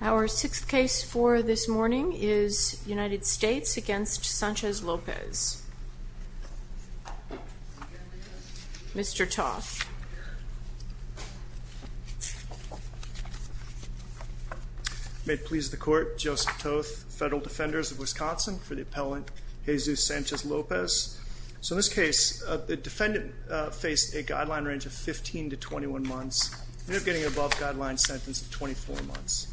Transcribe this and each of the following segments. Our sixth case for this morning is United States v. Sanchez-Lopez. Mr. Toth. May it please the Court, Joseph Toth, Federal Defenders of Wisconsin, for the appellant Jesus Sanchez-Lopez. So in this case, the defendant faced a guideline range of 15 to 21 months. You're not getting an above-guideline sentence of 24 months.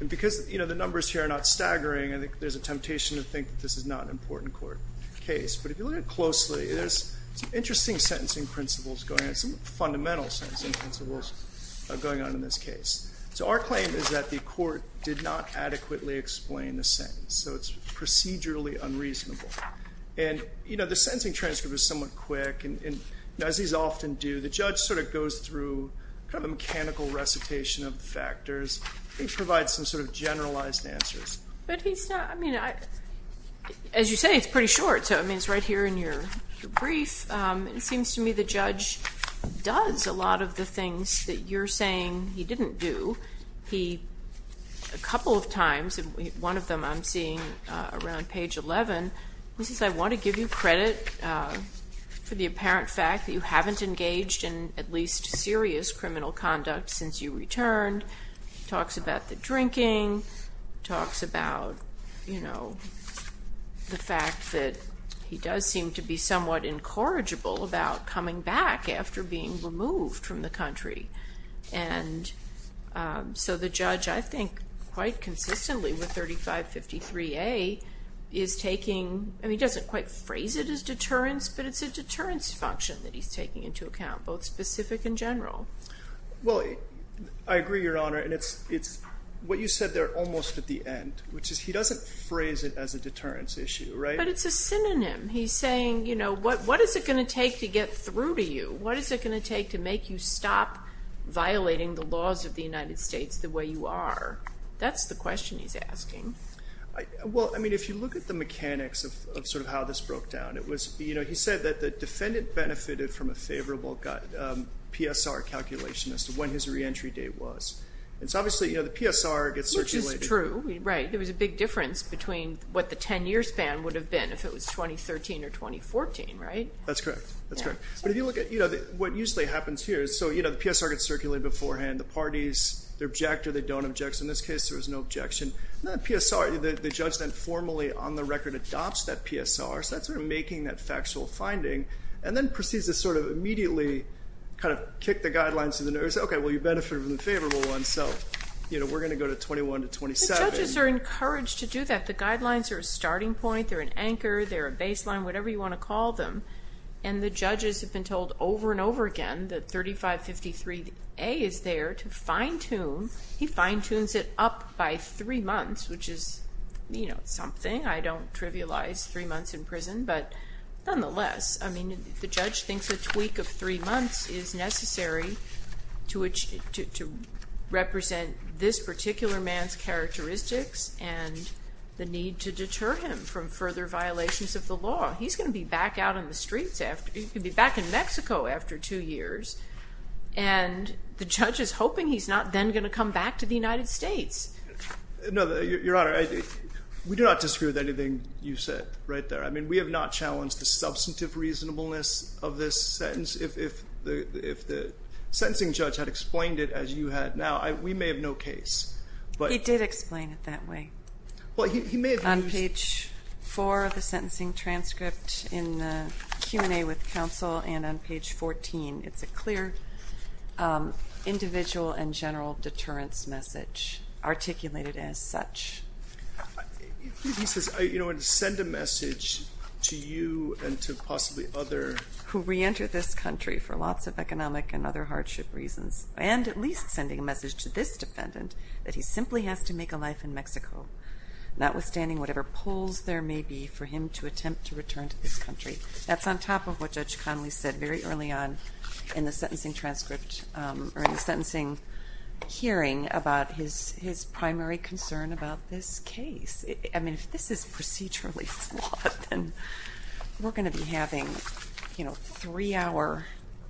And because, you know, the numbers here are not staggering, I think there's a temptation to think that this is not an important court case. But if you look at it closely, there's some interesting sentencing principles going on, some fundamental sentencing principles going on in this case. So our claim is that the court did not adequately explain the sentence, so it's procedurally unreasonable. And, you know, the sentencing transcript is somewhat quick. And as these often do, the judge sort of goes through kind of a mechanical recitation of the factors. He provides some sort of generalized answers. But he's not, I mean, as you say, it's pretty short. So, I mean, it's right here in your brief. It seems to me the judge does a lot of the things that you're saying he didn't do. A couple of times, one of them I'm seeing around page 11, he says, I want to give you credit for the apparent fact that you haven't engaged in at least serious criminal conduct since you returned. He talks about the drinking, talks about, you know, the fact that he does seem to be somewhat incorrigible about coming back after being removed from the country. And so the judge, I think, quite consistently with 3553A is taking, I mean, he doesn't quite phrase it as deterrence, but it's a deterrence function that he's taking into account, both specific and general. Well, I agree, Your Honor. And it's what you said there almost at the end, which is he doesn't phrase it as a deterrence issue, right? But it's a synonym. He's saying, you know, what is it going to take to get through to you? What is it going to take to make you stop violating the laws of the United States the way you are? That's the question he's asking. Well, I mean, if you look at the mechanics of sort of how this broke down, it was, you know, he said that the defendant benefited from a favorable PSR calculation as to when his reentry date was. And so obviously, you know, the PSR gets circulated. Which is true, right. There was a big difference between what the 10-year span would have been if it was 2013 or 2014, right? That's correct. That's correct. But if you look at, you know, what usually happens here is, so, you know, the PSR gets circulated beforehand. The parties, they object or they don't object. So in this case, there was no objection. PSR, the judge then formally on the record adopts that PSR, so that's sort of making that factual finding, and then proceeds to sort of immediately kind of kick the guidelines to the nerves. Okay, well, you benefited from the favorable one, so, you know, we're going to go to 21 to 27. The judges are encouraged to do that. The guidelines are a starting point. They're an anchor. They're a baseline, whatever you want to call them. And the judges have been told over and over again that 3553A is there to fine-tune. He fine-tunes it up by three months, which is, you know, something. I don't trivialize three months in prison. But nonetheless, I mean, the judge thinks a tweak of three months is necessary to represent this particular man's characteristics and the need to deter him from further violations of the law. He's going to be back out on the streets. He's going to be back in Mexico after two years. And the judge is hoping he's not then going to come back to the United States. No, Your Honor, we do not disagree with anything you said right there. I mean, we have not challenged the substantive reasonableness of this sentence. If the sentencing judge had explained it as you had now, we may have no case. He did explain it that way. On page 4 of the sentencing transcript in the Q&A with counsel and on page 14, it's a clear individual and general deterrence message articulated as such. He says, you know, send a message to you and to possibly other. Who reenter this country for lots of economic and other hardship reasons. And at least sending a message to this defendant that he simply has to make a life in Mexico, notwithstanding whatever pulls there may be for him to attempt to return to this country. That's on top of what Judge Conley said very early on in the sentencing transcript or in the sentencing hearing about his primary concern about this case. I mean, if this is procedurally flawed, then we're going to be having, you know, three-hour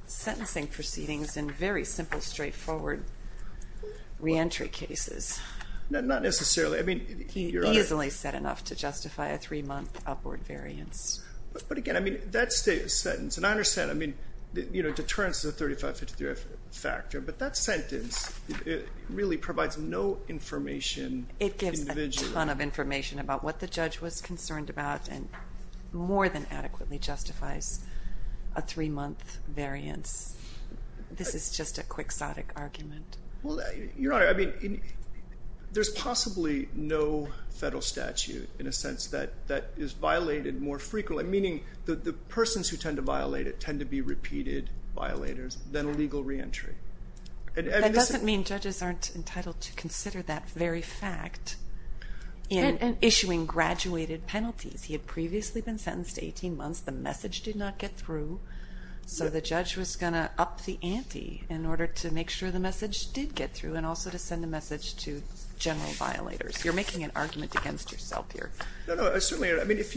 sentencing proceedings and very simple, straightforward reentry cases. Not necessarily. I mean, you're right. He's only said enough to justify a three-month upward variance. But again, I mean, that sentence, and I understand, I mean, you know, deterrence is a 35-53 factor, but that sentence really provides no information individually. It provides a ton of information about what the judge was concerned about and more than adequately justifies a three-month variance. This is just a quixotic argument. Well, Your Honor, I mean, there's possibly no federal statute in a sense that is violated more frequently, meaning that the persons who tend to violate it tend to be repeated violators than legal reentry. That doesn't mean judges aren't entitled to consider that very fact in issuing graduated penalties. He had previously been sentenced to 18 months. The message did not get through. So the judge was going to up the ante in order to make sure the message did get through and also to send the message to general violators. You're making an argument against yourself here. No, no, certainly. I mean, if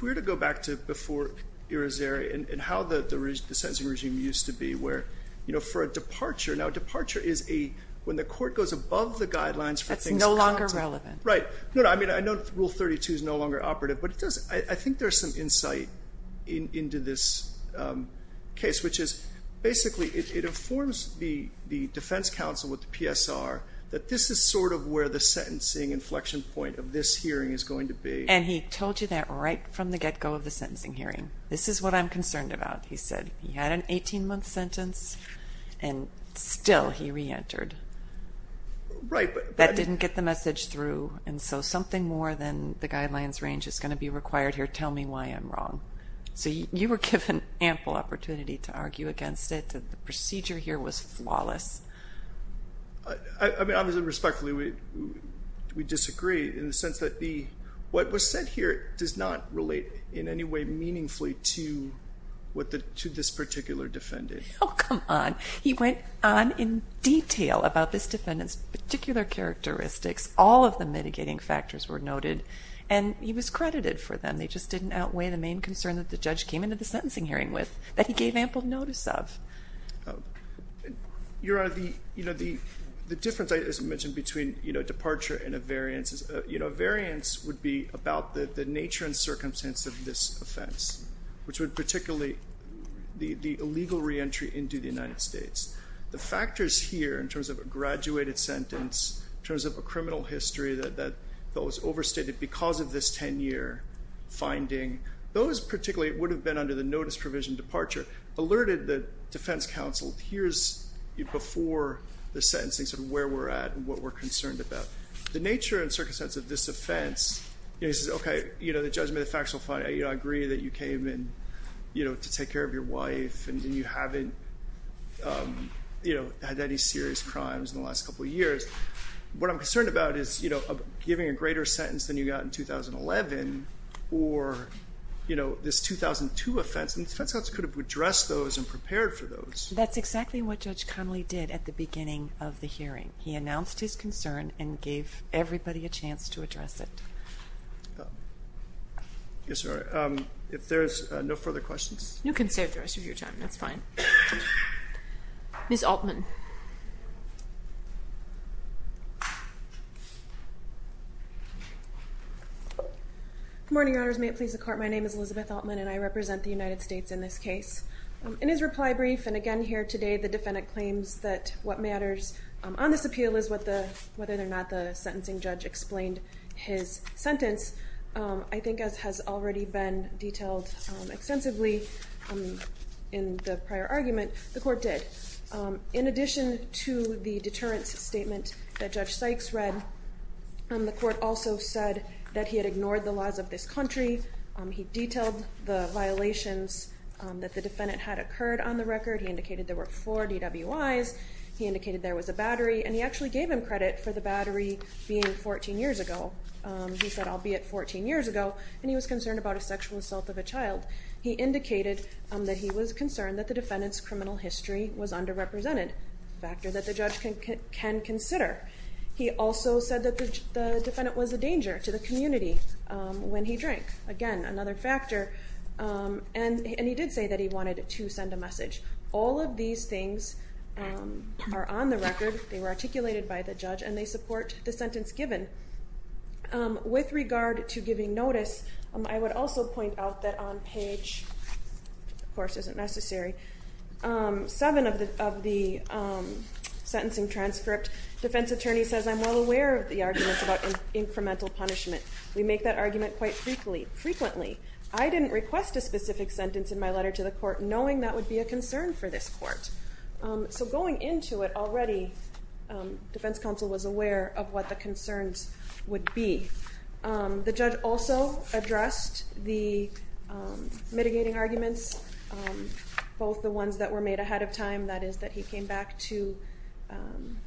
we were to go back to before Irizarry and how the sentencing regime used to be, where, you know, for a departure, now a departure is when the court goes above the guidelines. That's no longer relevant. Right. No, I mean, I know Rule 32 is no longer operative, but I think there's some insight into this case, which is basically it informs the defense counsel with the PSR that this is sort of where the sentencing inflection point of this hearing is going to be. And he told you that right from the get-go of the sentencing hearing. This is what I'm concerned about, he said. He had an 18-month sentence, and still he reentered. Right. That didn't get the message through, and so something more than the guidelines range is going to be required here to tell me why I'm wrong. So you were given ample opportunity to argue against it. The procedure here was flawless. I mean, obviously, respectfully, we disagree in the sense that what was said here does not relate in any way to this particular defendant. Oh, come on. He went on in detail about this defendant's particular characteristics. All of the mitigating factors were noted, and he was credited for them. They just didn't outweigh the main concern that the judge came into the sentencing hearing with, that he gave ample notice of. Your Honor, the difference, as I mentioned, between departure and a variance, a variance would be about the nature and circumstance of this offense, which would particularly be the illegal reentry into the United States. The factors here in terms of a graduated sentence, in terms of a criminal history that was overstated because of this 10-year finding, those particularly would have been under the notice provision departure, alerted the defense counsel, here's before the sentencing sort of where we're at and what we're concerned about. The nature and circumstance of this offense, he says, okay, the judgment, the factual finding, I agree that you came to take care of your wife and you haven't had any serious crimes in the last couple of years. What I'm concerned about is giving a greater sentence than you got in 2011 or this 2002 offense, and the defense counsel could have addressed those and prepared for those. That's exactly what Judge Connolly did at the beginning of the hearing. He announced his concern and gave everybody a chance to address it. Yes, sir. If there's no further questions. You can stay the rest of your time. That's fine. Ms. Altman. Good morning, Your Honors. May it please the Court, my name is Elizabeth Altman and I represent the United States in this case. In his reply brief and again here today, the defendant claims that what matters on this appeal is whether or not the sentencing judge explained his sentence. I think as has already been detailed extensively in the prior argument, the Court did. In addition to the deterrence statement that Judge Sykes read, the Court also said that he had ignored the laws of this country. He detailed the violations that the defendant had occurred on the record. He indicated there were four DWIs, he indicated there was a battery, and he actually gave him credit for the battery being 14 years ago. He said, I'll be at 14 years ago, and he was concerned about a sexual assault of a child. He indicated that he was concerned that the defendant's criminal history was underrepresented, a factor that the judge can consider. He also said that the defendant was a danger to the community when he drank. Again, another factor. And he did say that he wanted to send a message. All of these things are on the record. They were articulated by the judge, and they support the sentence given. With regard to giving notice, I would also point out that on page 7 of the sentencing transcript, defense attorney says, I'm well aware of the arguments about incremental punishment. We make that argument quite frequently. I didn't request a specific sentence in my letter to the court, knowing that would be a concern for this court. So going into it already, defense counsel was aware of what the concerns would be. The judge also addressed the mitigating arguments, both the ones that were made ahead of time, that is that he came back to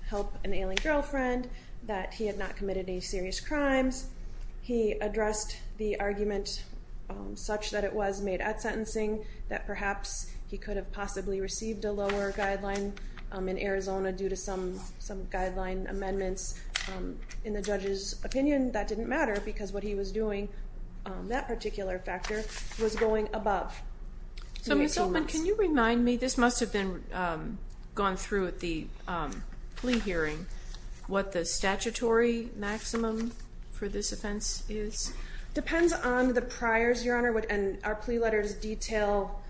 help an ailing girlfriend, that he had not committed any serious crimes. He addressed the argument such that it was made at sentencing, that perhaps he could have possibly received a lower guideline in Arizona due to some guideline amendments. In the judge's opinion, that didn't matter because what he was doing, that particular factor, was going above. So Ms. Goldman, can you remind me, this must have gone through at the plea hearing, what the statutory maximum for this offense is? It depends on the priors, Your Honor. Our plea letters detail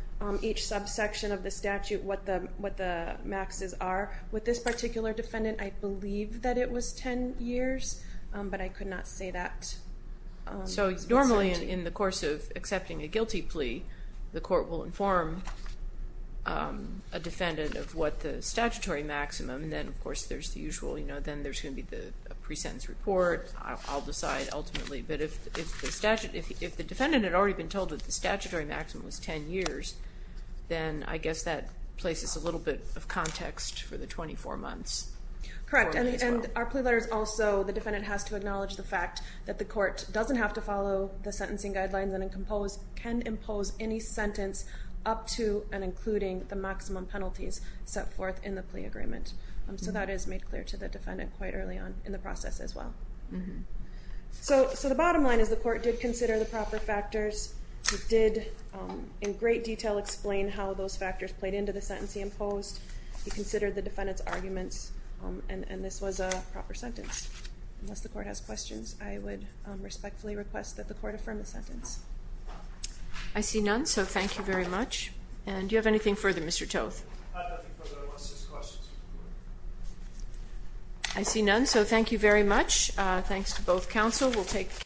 each subsection of the statute, what the maxes are. With this particular defendant, I believe that it was 10 years, but I could not say that. So normally in the course of accepting a guilty plea, the court will inform a defendant of what the statutory maximum, and then of course there's the usual, you know, then there's going to be the pre-sentence report. I'll decide ultimately. But if the defendant had already been told that the statutory maximum was 10 years, then I guess that places a little bit of context for the 24 months. Correct, and our plea letters also, the defendant has to acknowledge the fact that the court doesn't have to follow the sentencing guidelines and can impose any sentence up to and including the maximum penalties set forth in the plea agreement. So that is made clear to the defendant quite early on in the process as well. So the bottom line is the court did consider the proper factors. It did in great detail explain how those factors played into the sentence he imposed. He considered the defendant's arguments, and this was a proper sentence. Unless the court has questions, I would respectfully request that the court affirm the sentence. I see none, so thank you very much. And do you have anything further, Mr. Toth? I have nothing further. I want to ask questions. I see none, so thank you very much. Thanks to both counsel.